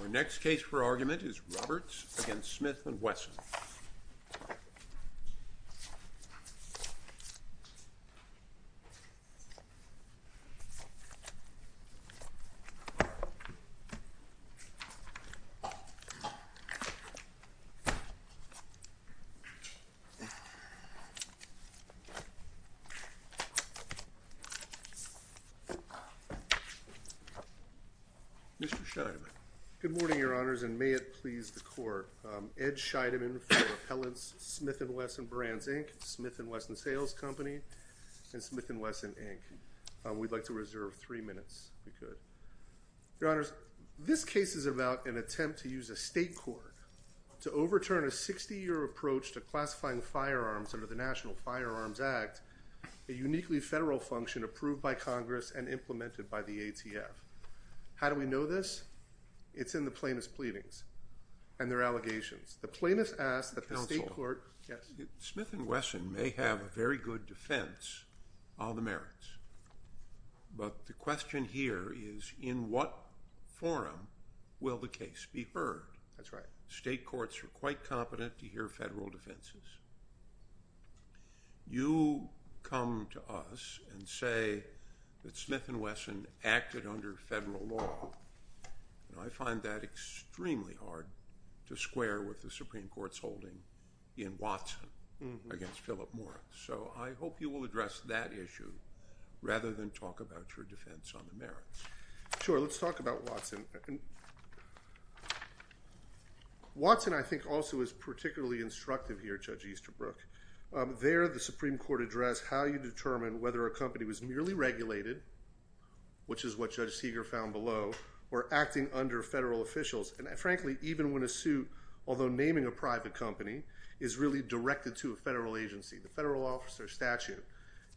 Our next case for argument is Roberts v. Smith & Wesson. Mr. Scheidemann. Good morning, Your Honors, and may it please the Court. Ed Scheidemann for Appellants, Smith & Wesson Brands, Inc., Smith & Wesson Sales Company, and Smith & Wesson, Inc. We'd like to reserve three minutes, if we could. Your Honors, this case is about an attempt to use a state court to overturn a 60-year approach to classifying firearms under the National Firearms Act, a uniquely federal function approved by Congress and implemented by the ATF. How do we know this? It's in the plaintiff's pleadings and their allegations. The plaintiff asked that the state court… Counsel. Yes. Smith & Wesson may have a very good defense on the merits, but the question here is, in what forum will the case be heard? That's right. State courts are quite competent to hear federal defenses. You come to us and say that Smith & Wesson acted under federal law, and I find that extremely hard to square with the Supreme Court's holding in Watson against Philip Morris. So I hope you will address that issue rather than talk about your defense on the merits. Sure, let's talk about Watson. Watson, I think, also is particularly instructive here, Judge Easterbrook. There, the Supreme Court addressed how you determine whether a company was merely regulated, which is what Judge Seeger found below, or acting under federal officials. And frankly, even when a suit, although naming a private company, is really directed to a federal agency. The federal officer statute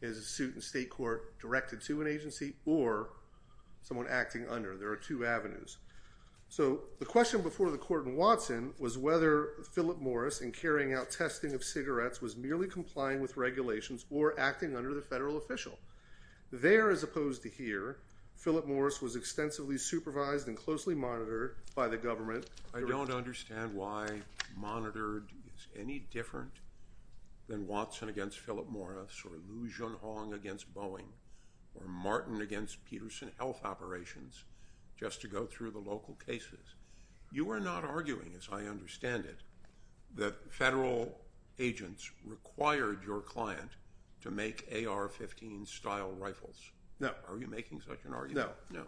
is a suit in state court directed to an agency or someone acting under. There are two avenues. So the question before the court in Watson was whether Philip Morris, in carrying out testing of cigarettes, was merely complying with regulations or acting under the federal official. There, as opposed to here, Philip Morris was extensively supervised and closely monitored by the government. I don't understand why monitored is any different than Watson against Philip Morris or Liu Junhong against Boeing or Martin against Peterson Health Operations, just to go through the local cases. You are not arguing, as I understand it, that federal agents required your client to make AR-15 style rifles. No. Are you making such an argument? No.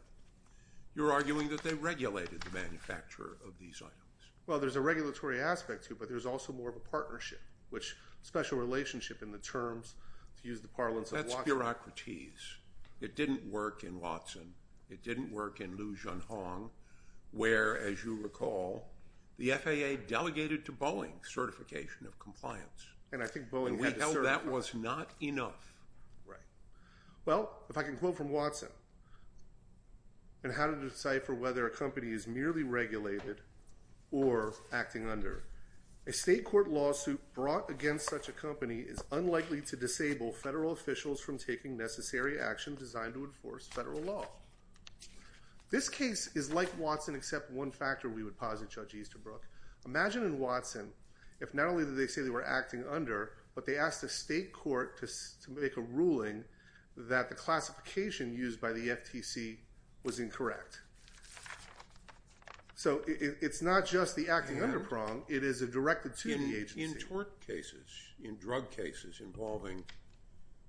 You're arguing that they regulated the manufacture of these items. Well, there's a regulatory aspect to it, but there's also more of a partnership, which special relationship in the terms, to use the parlance of Watson. That's bureaucraties. It didn't work in Watson. It didn't work in Liu Junhong, where, as you recall, the FAA delegated to Boeing certification of compliance. And I think Boeing had to certify that. And we held that was not enough. Right. Well, if I can quote from Watson, and how to decipher whether a company is merely regulated or acting under, a state court lawsuit brought against such a company is unlikely to disable federal officials from taking necessary action designed to enforce federal law. This case is like Watson, except one factor we would posit, Judge Easterbrook. Imagine in Watson if not only did they say they were acting under, but they asked a state court to make a ruling that the classification used by the FTC was incorrect. So it's not just the acting under prong. It is a directed to the agency. In tort cases, in drug cases involving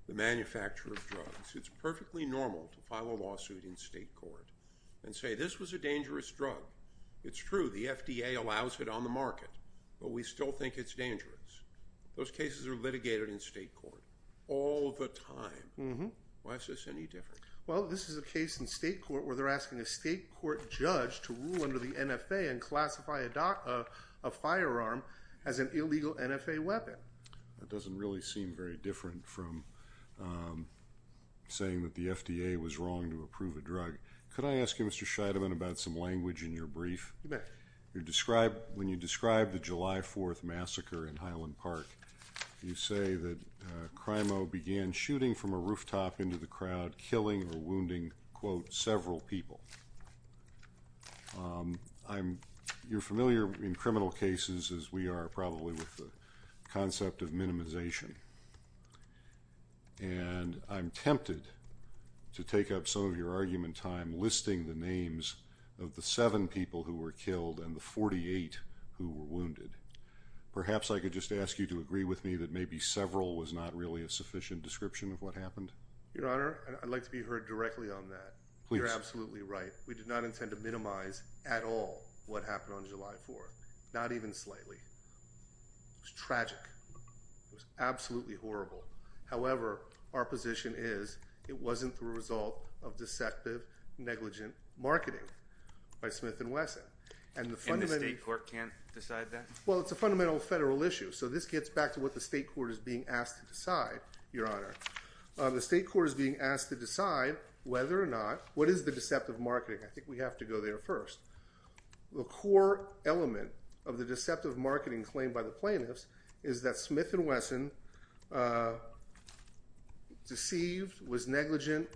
the manufacture of drugs, it's perfectly normal to file a lawsuit in state court and say this was a dangerous drug. It's true. The FDA allows it on the market, but we still think it's dangerous. Those cases are litigated in state court all the time. Why is this any different? Well, this is a case in state court where they're asking a state court judge to rule under the NFA and classify a firearm as an illegal NFA weapon. That doesn't really seem very different from saying that the FDA was wrong to approve a drug. Could I ask you, Mr. Scheidemann, about some language in your brief? You bet. When you describe the July 4th massacre in Highland Park, you say that CRIMO began shooting from a rooftop into the crowd, killing or wounding, quote, several people. You're familiar in criminal cases, as we are probably, with the concept of minimization. And I'm tempted to take up some of your argument time listing the names of the seven people who were killed and the 48 who were wounded. Perhaps I could just ask you to agree with me that maybe several was not really a sufficient description of what happened? Your Honor, I'd like to be heard directly on that. Please. You're absolutely right. We did not intend to minimize at all what happened on July 4th, not even slightly. It was tragic. It was absolutely horrible. However, our position is it wasn't the result of deceptive, negligent marketing by Smith & Wesson. And the state court can't decide that? Well, it's a fundamental federal issue, so this gets back to what the state court is being asked to decide, Your Honor. The state court is being asked to decide whether or not – what is the deceptive marketing? I think we have to go there first. The core element of the deceptive marketing claimed by the plaintiffs is that Smith & Wesson deceived, was negligent,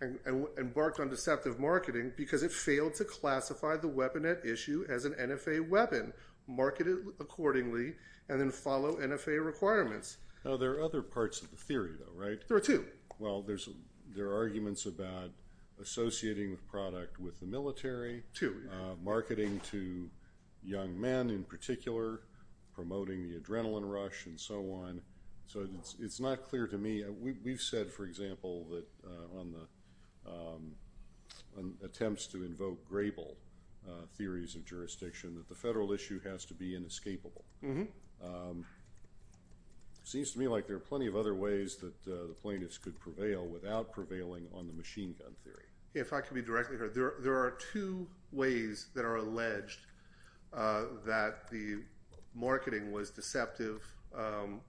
and embarked on deceptive marketing because it failed to classify the weapon at issue as an NFA weapon, market it accordingly, and then follow NFA requirements. Now, there are other parts of the theory, though, right? There are two. Well, there are arguments about associating the product with the military. Two, yeah. Marketing to young men in particular, promoting the adrenaline rush, and so on. So it's not clear to me. We've said, for example, that on attempts to invoke Grable theories of jurisdiction, that the federal issue has to be inescapable. It seems to me like there are plenty of other ways that the plaintiffs could prevail without prevailing on the machine gun theory. If I could be directly – there are two ways that are alleged that the marketing was deceptive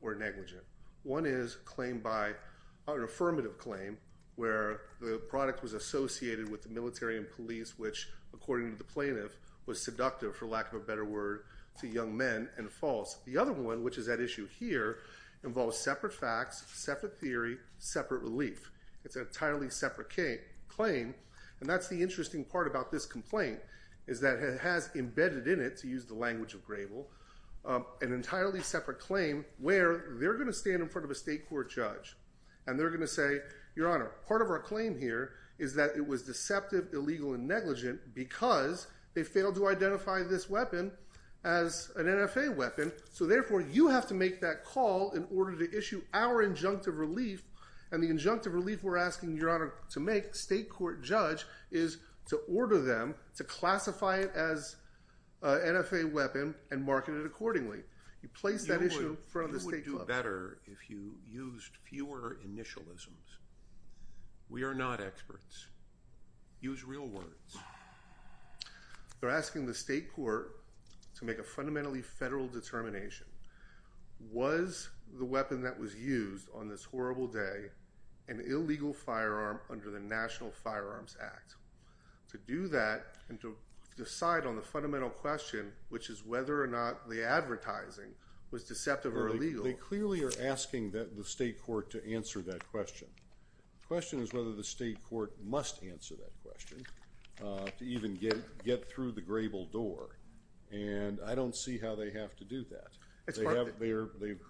or negligent. One is claimed by – an affirmative claim where the product was associated with the military and police, which, according to the plaintiff, was seductive, for lack of a better word, to young men, and false. The other one, which is at issue here, involves separate facts, separate theory, separate relief. It's an entirely separate claim. And that's the interesting part about this complaint is that it has embedded in it, to use the language of Grable, an entirely separate claim where they're going to stand in front of a state court judge. And they're going to say, Your Honor, part of our claim here is that it was deceptive, illegal, and negligent because they failed to identify this weapon as an NFA weapon. So therefore, you have to make that call in order to issue our injunctive relief, and the injunctive relief we're asking Your Honor to make, state court judge, is to order them to classify it as an NFA weapon and market it accordingly. You place that issue in front of the state court. You would do better if you used fewer initialisms. We are not experts. Use real words. They're asking the state court to make a fundamentally federal determination. Was the weapon that was used on this horrible day an illegal firearm under the National Firearms Act? To do that and to decide on the fundamental question, which is whether or not the advertising was deceptive or illegal. They clearly are asking the state court to answer that question. The question is whether the state court must answer that question to even get through the grable door. And I don't see how they have to do that.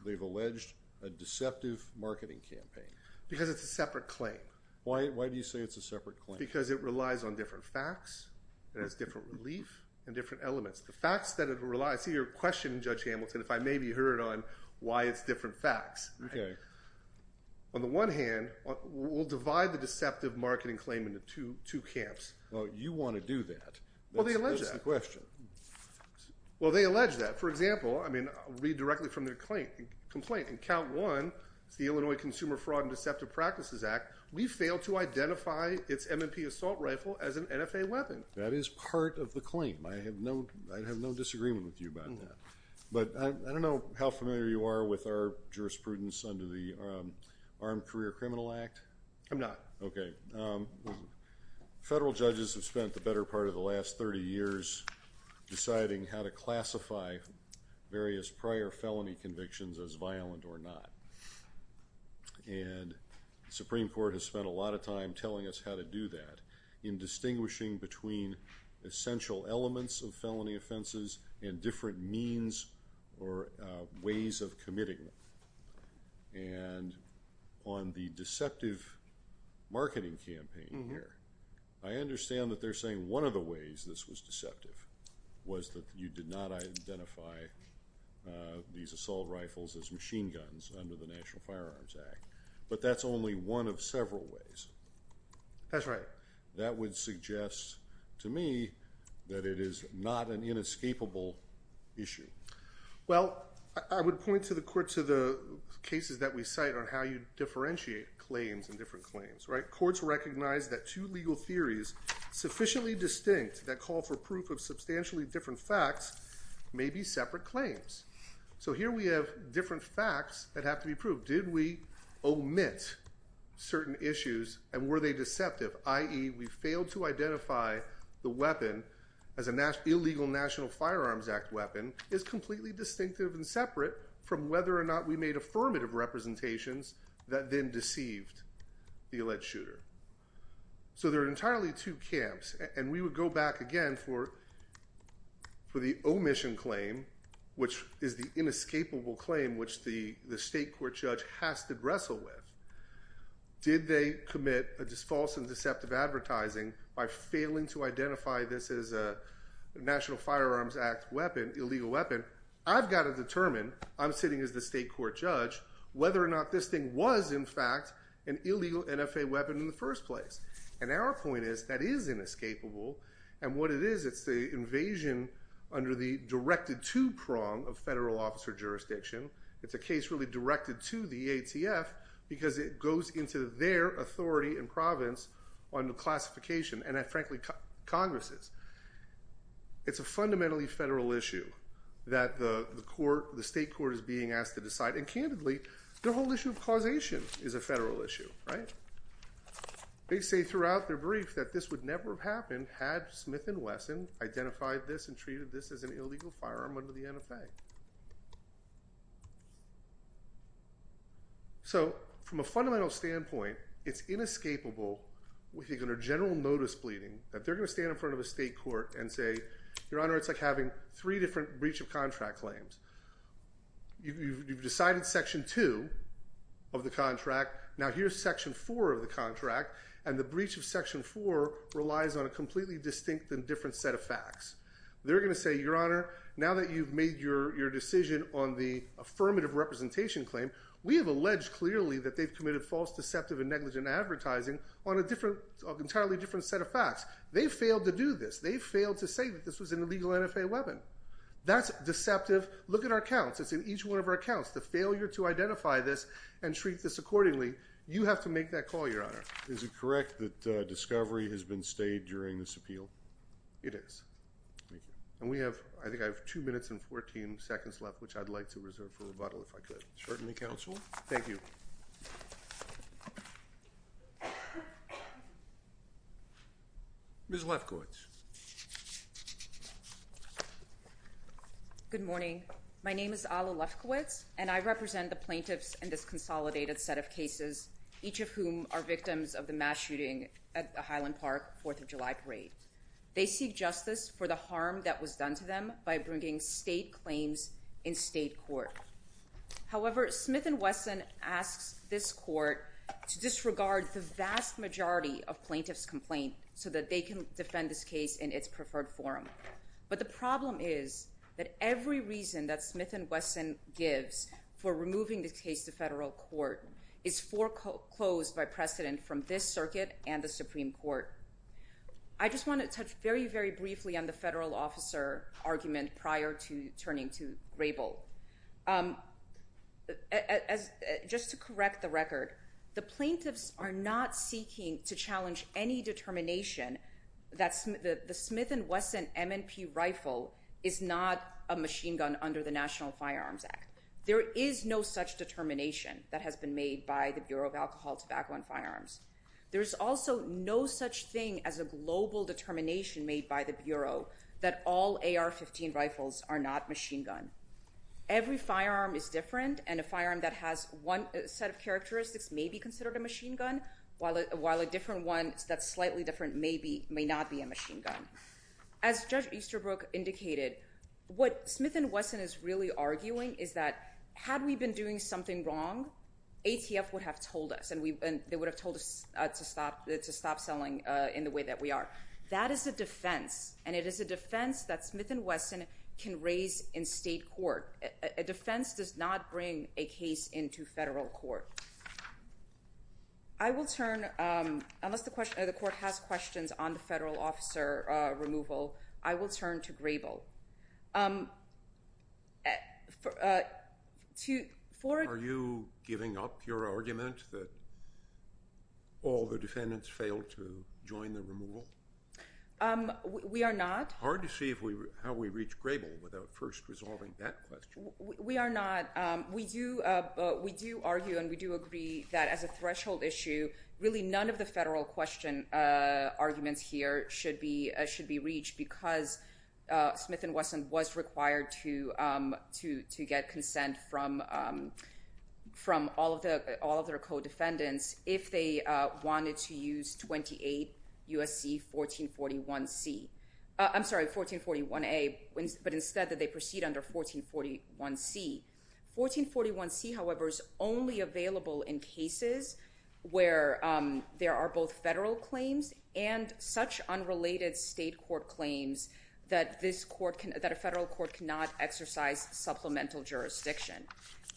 They've alleged a deceptive marketing campaign. Because it's a separate claim. Why do you say it's a separate claim? Because it relies on different facts. It has different relief and different elements. The facts that it relies – see, you're questioning, Judge Hamilton, if I may be heard on why it's different facts. Okay. On the one hand, we'll divide the deceptive marketing claim into two camps. Well, you want to do that. Well, they allege that. That's the question. Well, they allege that. For example, I mean, read directly from their complaint. In count one, it's the Illinois Consumer Fraud and Deceptive Practices Act. We failed to identify its M&P assault rifle as an NFA weapon. That is part of the claim. I have no disagreement with you about that. But I don't know how familiar you are with our jurisprudence under the Armed Career Criminal Act. I'm not. Okay. Federal judges have spent the better part of the last 30 years deciding how to classify various prior felony convictions as violent or not. And the Supreme Court has spent a lot of time telling us how to do that in distinguishing between essential elements of felony offenses and different means or ways of committing them. And on the deceptive marketing campaign here, I understand that they're saying one of the ways this was deceptive was that you did not identify these assault rifles as machine guns under the National Firearms Act. But that's only one of several ways. That's right. That would suggest to me that it is not an inescapable issue. Well, I would point to the cases that we cite on how you differentiate claims and different claims. Courts recognize that two legal theories sufficiently distinct that call for proof of substantially different facts may be separate claims. So here we have different facts that have to be proved. So did we omit certain issues and were they deceptive, i.e., we failed to identify the weapon as an illegal National Firearms Act weapon is completely distinctive and separate from whether or not we made affirmative representations that then deceived the alleged shooter. So there are entirely two camps. And we would go back again for the omission claim, which is the inescapable claim, which the state court judge has to wrestle with. Did they commit a false and deceptive advertising by failing to identify this as a National Firearms Act weapon, illegal weapon? I've got to determine, I'm sitting as the state court judge, whether or not this thing was, in fact, an illegal NFA weapon in the first place. And our point is that is inescapable. And what it is, it's the invasion under the directed-to prong of federal officer jurisdiction. It's a case really directed to the ATF because it goes into their authority and province on the classification and, frankly, Congress's. It's a fundamentally federal issue that the state court is being asked to decide. And, candidly, the whole issue of causation is a federal issue, right? They say throughout their brief that this would never have happened had Smith and Wesson identified this and treated this as an illegal firearm under the NFA. So, from a fundamental standpoint, it's inescapable with a general notice pleading that they're going to stand in front of a state court and say, Your Honor, it's like having three different breach of contract claims. You've decided Section 2 of the contract. Now here's Section 4 of the contract. And the breach of Section 4 relies on a completely distinct and different set of facts. They're going to say, Your Honor, now that you've made your decision on the affirmative representation claim, we have alleged clearly that they've committed false, deceptive, and negligent advertising on an entirely different set of facts. They failed to do this. They failed to say that this was an illegal NFA weapon. That's deceptive. Look at our counts. It's in each one of our counts, the failure to identify this and treat this accordingly. You have to make that call, Your Honor. Is it correct that Discovery has been stayed during this appeal? It is. And we have, I think I have 2 minutes and 14 seconds left, which I'd like to reserve for rebuttal if I could. Certainly, Counsel. Thank you. Ms. Lefkowitz. Good morning. My name is Alla Lefkowitz, and I represent the plaintiffs in this consolidated set of cases, each of whom are victims of the mass shooting at the Highland Park Fourth of July Parade. They seek justice for the harm that was done to them by bringing state claims in state court. However, Smith & Wesson asks this court to disregard the vast majority of plaintiffs' complaint so that they can defend this case in its preferred form. But the problem is that every reason that Smith & Wesson gives for removing this case to federal court is foreclosed by precedent from this circuit and the Supreme Court. I just want to touch very, very briefly on the federal officer argument prior to turning to Grable. Just to correct the record, the plaintiffs are not seeking to challenge any determination that the Smith & Wesson M&P rifle is not a machine gun under the National Firearms Act. There is no such determination that has been made by the Bureau of Alcohol, Tobacco, and Firearms. There is also no such thing as a global determination made by the Bureau that all AR-15 rifles are not machine gun. Every firearm is different, and a firearm that has one set of characteristics may be considered a machine gun, while a different one that's slightly different may not be a machine gun. As Judge Easterbrook indicated, what Smith & Wesson is really arguing is that had we been doing something wrong, ATF would have told us, and they would have told us to stop selling in the way that we are. That is a defense, and it is a defense that Smith & Wesson can raise in state court. A defense does not bring a case into federal court. I will turn, unless the court has questions on the federal officer removal, I will turn to Grable. Are you giving up your argument that all the defendants failed to join the removal? We are not. Hard to see how we reach Grable without first resolving that question. We are not. We do argue and we do agree that as a threshold issue, really none of the federal question arguments here should be reached because Smith & Wesson was required to get consent from all of their co-defendants if they wanted to use 28 U.S.C. 1441C. I'm sorry, 1441A, but instead they proceed under 1441C. 1441C, however, is only available in cases where there are both federal claims and such unrelated state court claims that a federal court cannot exercise supplemental jurisdiction.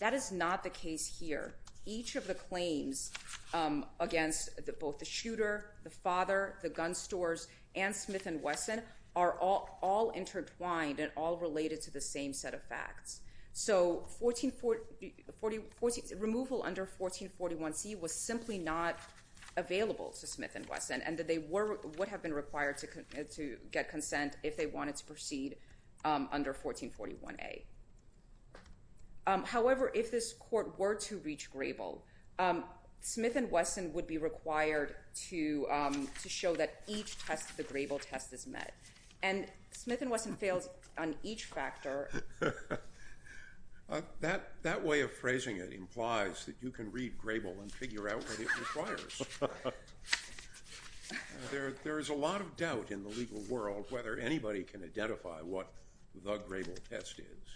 That is not the case here. Each of the claims against both the shooter, the father, the gun stores, and Smith & Wesson are all intertwined and all related to the same set of facts. So removal under 1441C was simply not available to Smith & Wesson and that they would have been required to get consent if they wanted to proceed under 1441A. However, if this court were to reach Grable, Smith & Wesson would be required to show that each test, the Grable test, is met. And Smith & Wesson fails on each factor. That way of phrasing it implies that you can read Grable and figure out what it requires. There is a lot of doubt in the legal world whether anybody can identify what the Grable test is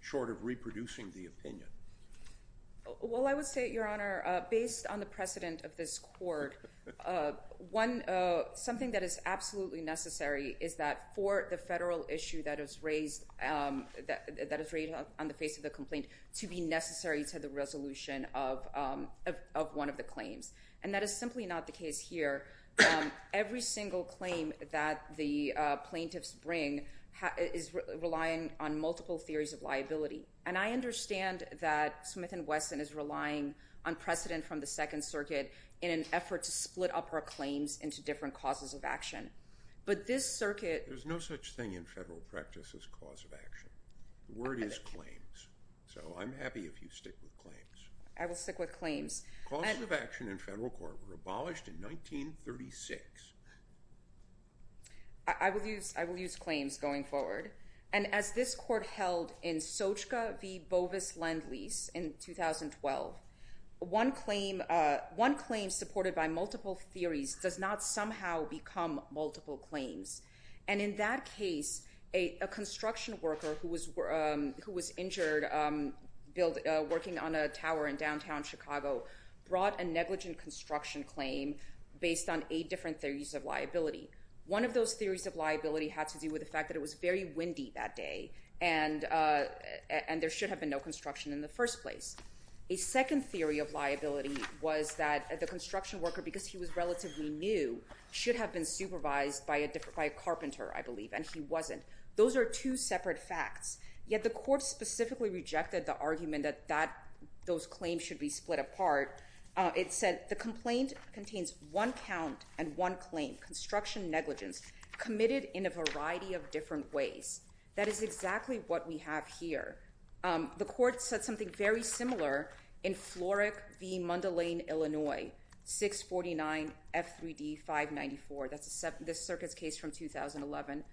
short of reproducing the opinion. Well, I would say, Your Honor, based on the precedent of this court, something that is absolutely necessary is that for the federal issue that is raised on the face of the complaint to be necessary to the resolution of one of the claims. And that is simply not the case here. Every single claim that the plaintiffs bring is relying on multiple theories of liability. And I understand that Smith & Wesson is relying on precedent from the Second Circuit in an effort to split up our claims into different causes of action. But this circuit... There's no such thing in federal practice as cause of action. The word is claims. I will stick with claims. Causes of action in federal court were abolished in 1936. I will use claims going forward. And as this court held in Sochka v. Bovis-Lendlease in 2012, one claim supported by multiple theories does not somehow become multiple claims. And in that case, a construction worker who was injured working on a tower in downtown Chicago brought a negligent construction claim based on eight different theories of liability. One of those theories of liability had to do with the fact that it was very windy that day and there should have been no construction in the first place. A second theory of liability was that the construction worker, because he was relatively new, should have been supervised by a carpenter, I believe, and he wasn't. Those are two separate facts. Yet the court specifically rejected the argument that those claims should be split apart. It said the complaint contains one count and one claim, construction negligence, committed in a variety of different ways. That is exactly what we have here. The court said something very similar in Florek v. Mundelein, Illinois, 649 F3D 594. That's this circuit's case from 2011.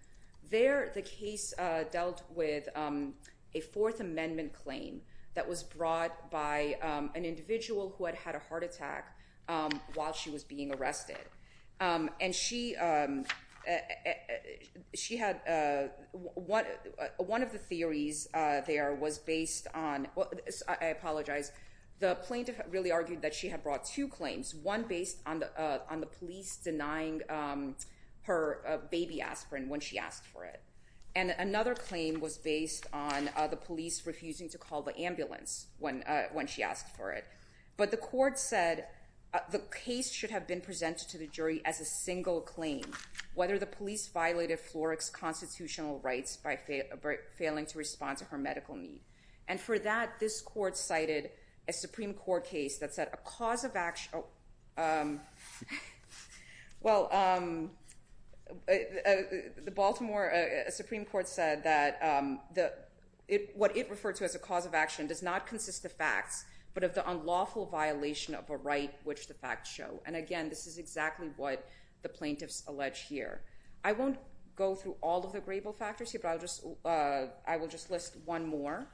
There the case dealt with a Fourth Amendment claim that was brought by an individual who had had a heart attack while she was being arrested. And she had one of the theories there was based on, I apologize, the plaintiff really argued that she had brought two claims, one based on the police denying her baby aspirin when she asked for it, and another claim was based on the police refusing to call the ambulance when she asked for it. But the court said the case should have been presented to the jury as a single claim, whether the police violated Florek's constitutional rights by failing to respond to her medical need. And for that, this court cited a Supreme Court case that said a cause of action... Well, the Baltimore Supreme Court said that what it referred to as a cause of action does not consist of facts, but of the unlawful violation of a right which the facts show. And again, this is exactly what the plaintiffs allege here. I won't go through all of the gravel factors here, but I will just list one more.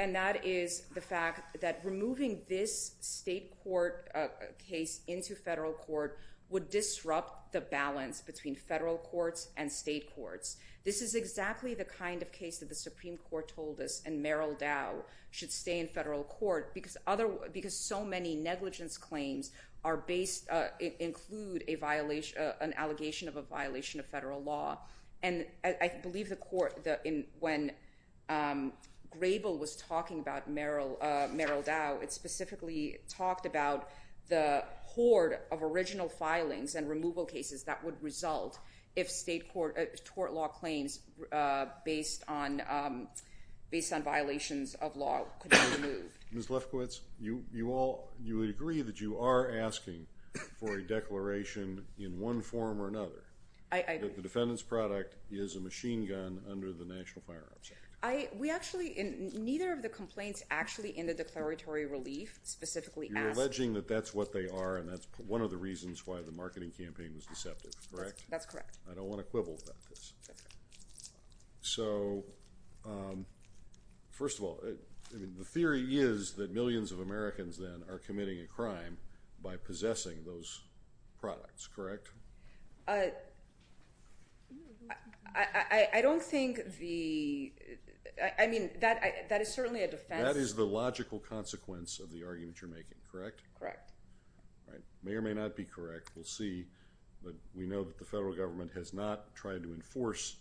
And that is the fact that removing this state court case into federal court would disrupt the balance between federal courts and state courts. This is exactly the kind of case that the Supreme Court told us, and Merrill Dow should stay in federal court, because so many negligence claims include an allegation of a violation of federal law. And I believe when Grable was talking about Merrill Dow, it specifically talked about the hoard of original filings and removal cases that would result if state court law claims based on violations of law could be removed. Ms. Lefkowitz, you agree that you are asking for a declaration in one form or another that the defendant's product is a machine gun under the National Firearms Act. Neither of the complaints actually in the declaratory relief specifically ask... That's correct. I don't want to quibble about this. So, first of all, the theory is that millions of Americans then are committing a crime by possessing those products, correct? I don't think the—I mean, that is certainly a defense. That is the logical consequence of the argument you're making, correct? Correct. May or may not be correct. We'll see. But we know that the federal government has not tried to enforce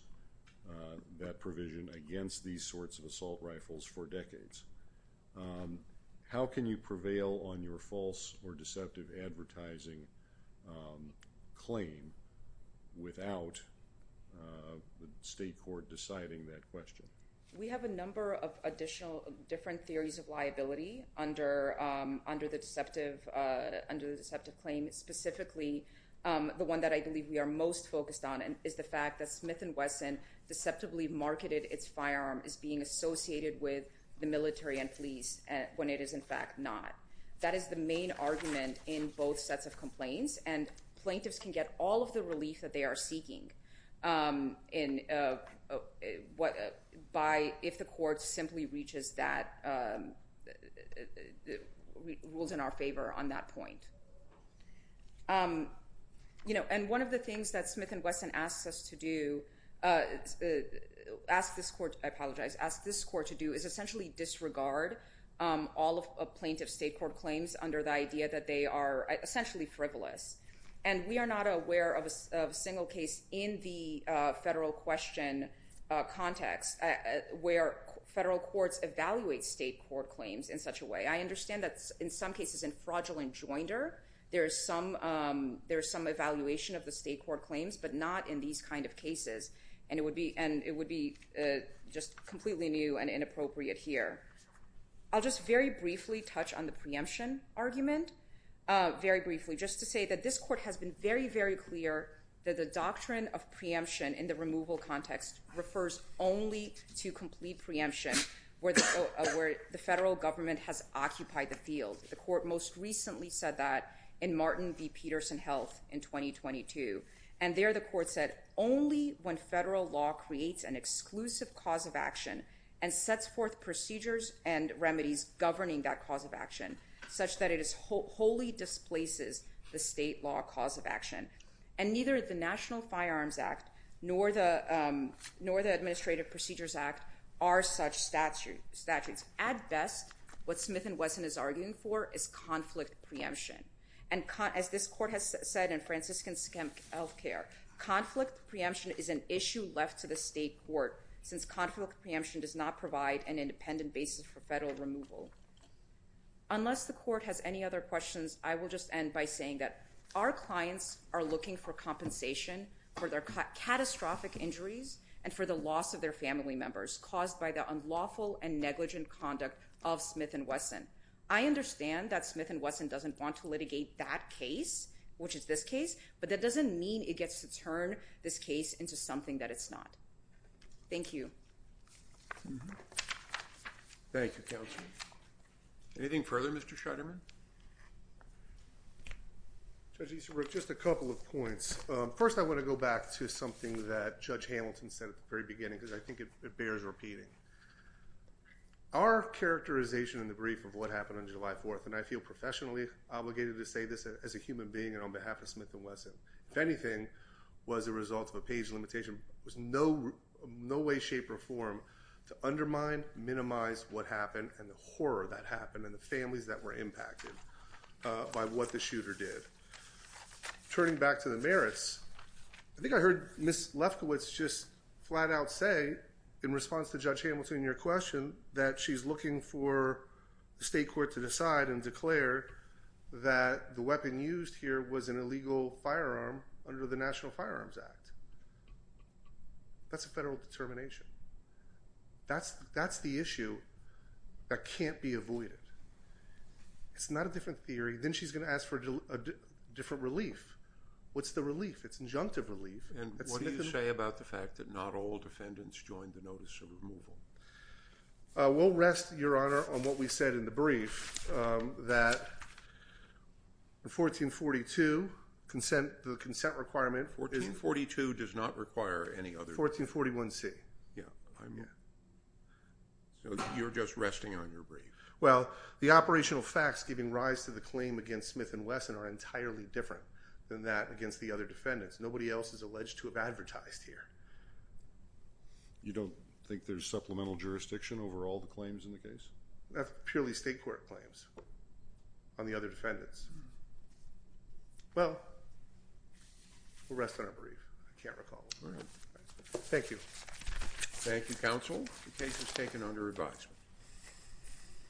that provision against these sorts of assault rifles for decades. How can you prevail on your false or deceptive advertising claim without the state court deciding that question? We have a number of additional different theories of liability under the deceptive claim. Specifically, the one that I believe we are most focused on is the fact that Smith & Wesson deceptively marketed its firearm as being associated with the military and police when it is in fact not. That is the main argument in both sets of complaints, and plaintiffs can get all of the relief that they are seeking if the court simply reaches that—rules in our favor on that point. And one of the things that Smith & Wesson asks us to do—I apologize— asks this court to do is essentially disregard all of plaintiff state court claims under the idea that they are essentially frivolous. And we are not aware of a single case in the federal question context where federal courts evaluate state court claims in such a way. I understand that in some cases in fraudulent joinder, there is some evaluation of the state court claims, but not in these kinds of cases. And it would be just completely new and inappropriate here. I'll just very briefly touch on the preemption argument, very briefly, just to say that this court has been very, very clear that the doctrine of preemption in the removal context refers only to complete preemption where the federal government has occupied the field. The court most recently said that in Martin v. Peterson Health in 2022. And there the court said, only when federal law creates an exclusive cause of action and sets forth procedures and remedies governing that cause of action such that it wholly displaces the state law cause of action. And neither the National Firearms Act nor the Administrative Procedures Act are such statutes. At best, what Smith and Wesson is arguing for is conflict preemption. And as this court has said in Franciscan Scamp Health Care, conflict preemption is an issue left to the state court since conflict preemption does not provide an independent basis for federal removal. Unless the court has any other questions, I will just end by saying that our clients are looking for compensation for their catastrophic injuries and for the loss of their family members caused by the unlawful and negligent conduct of Smith and Wesson. I understand that Smith and Wesson doesn't want to litigate that case, which is this case, but that doesn't mean it gets to turn this case into something that it's not. Thank you. Thank you, counsel. Anything further, Mr. Shuderman? Judge Easterbrook, just a couple of points. First, I want to go back to something that Judge Hamilton said at the very beginning because I think it bears repeating. Our characterization in the brief of what happened on July 4th, and I feel professionally obligated to say this as a human being and on behalf of Smith and Wesson, if anything, was a result of a page limitation. There's no way, shape, or form to undermine, minimize what happened and the horror that happened and the families that were impacted by what the shooter did. Turning back to the merits, I think I heard Ms. Lefkowitz just flat out say in response to Judge Hamilton and your question that she's looking for the state court to decide and declare that the weapon used here was an illegal firearm under the National Firearms Act. That's a federal determination. That's the issue that can't be avoided. It's not a different theory. Then she's going to ask for a different relief. What's the relief? It's injunctive relief. And what do you say about the fact that not all defendants joined the notice of removal? We'll rest, Your Honor, on what we said in the brief, that 1442, the consent requirement. 1442 does not require any other. 1441C. Yeah. So you're just resting on your brief. Well, the operational facts giving rise to the claim against Smith and Wesson are entirely different than that against the other defendants. Nobody else is alleged to have advertised here. You don't think there's supplemental jurisdiction over all the claims in the case? That's purely state court claims on the other defendants. Well, we'll rest on our brief. I can't recall. All right. Thank you. Thank you, counsel. The case is taken under review.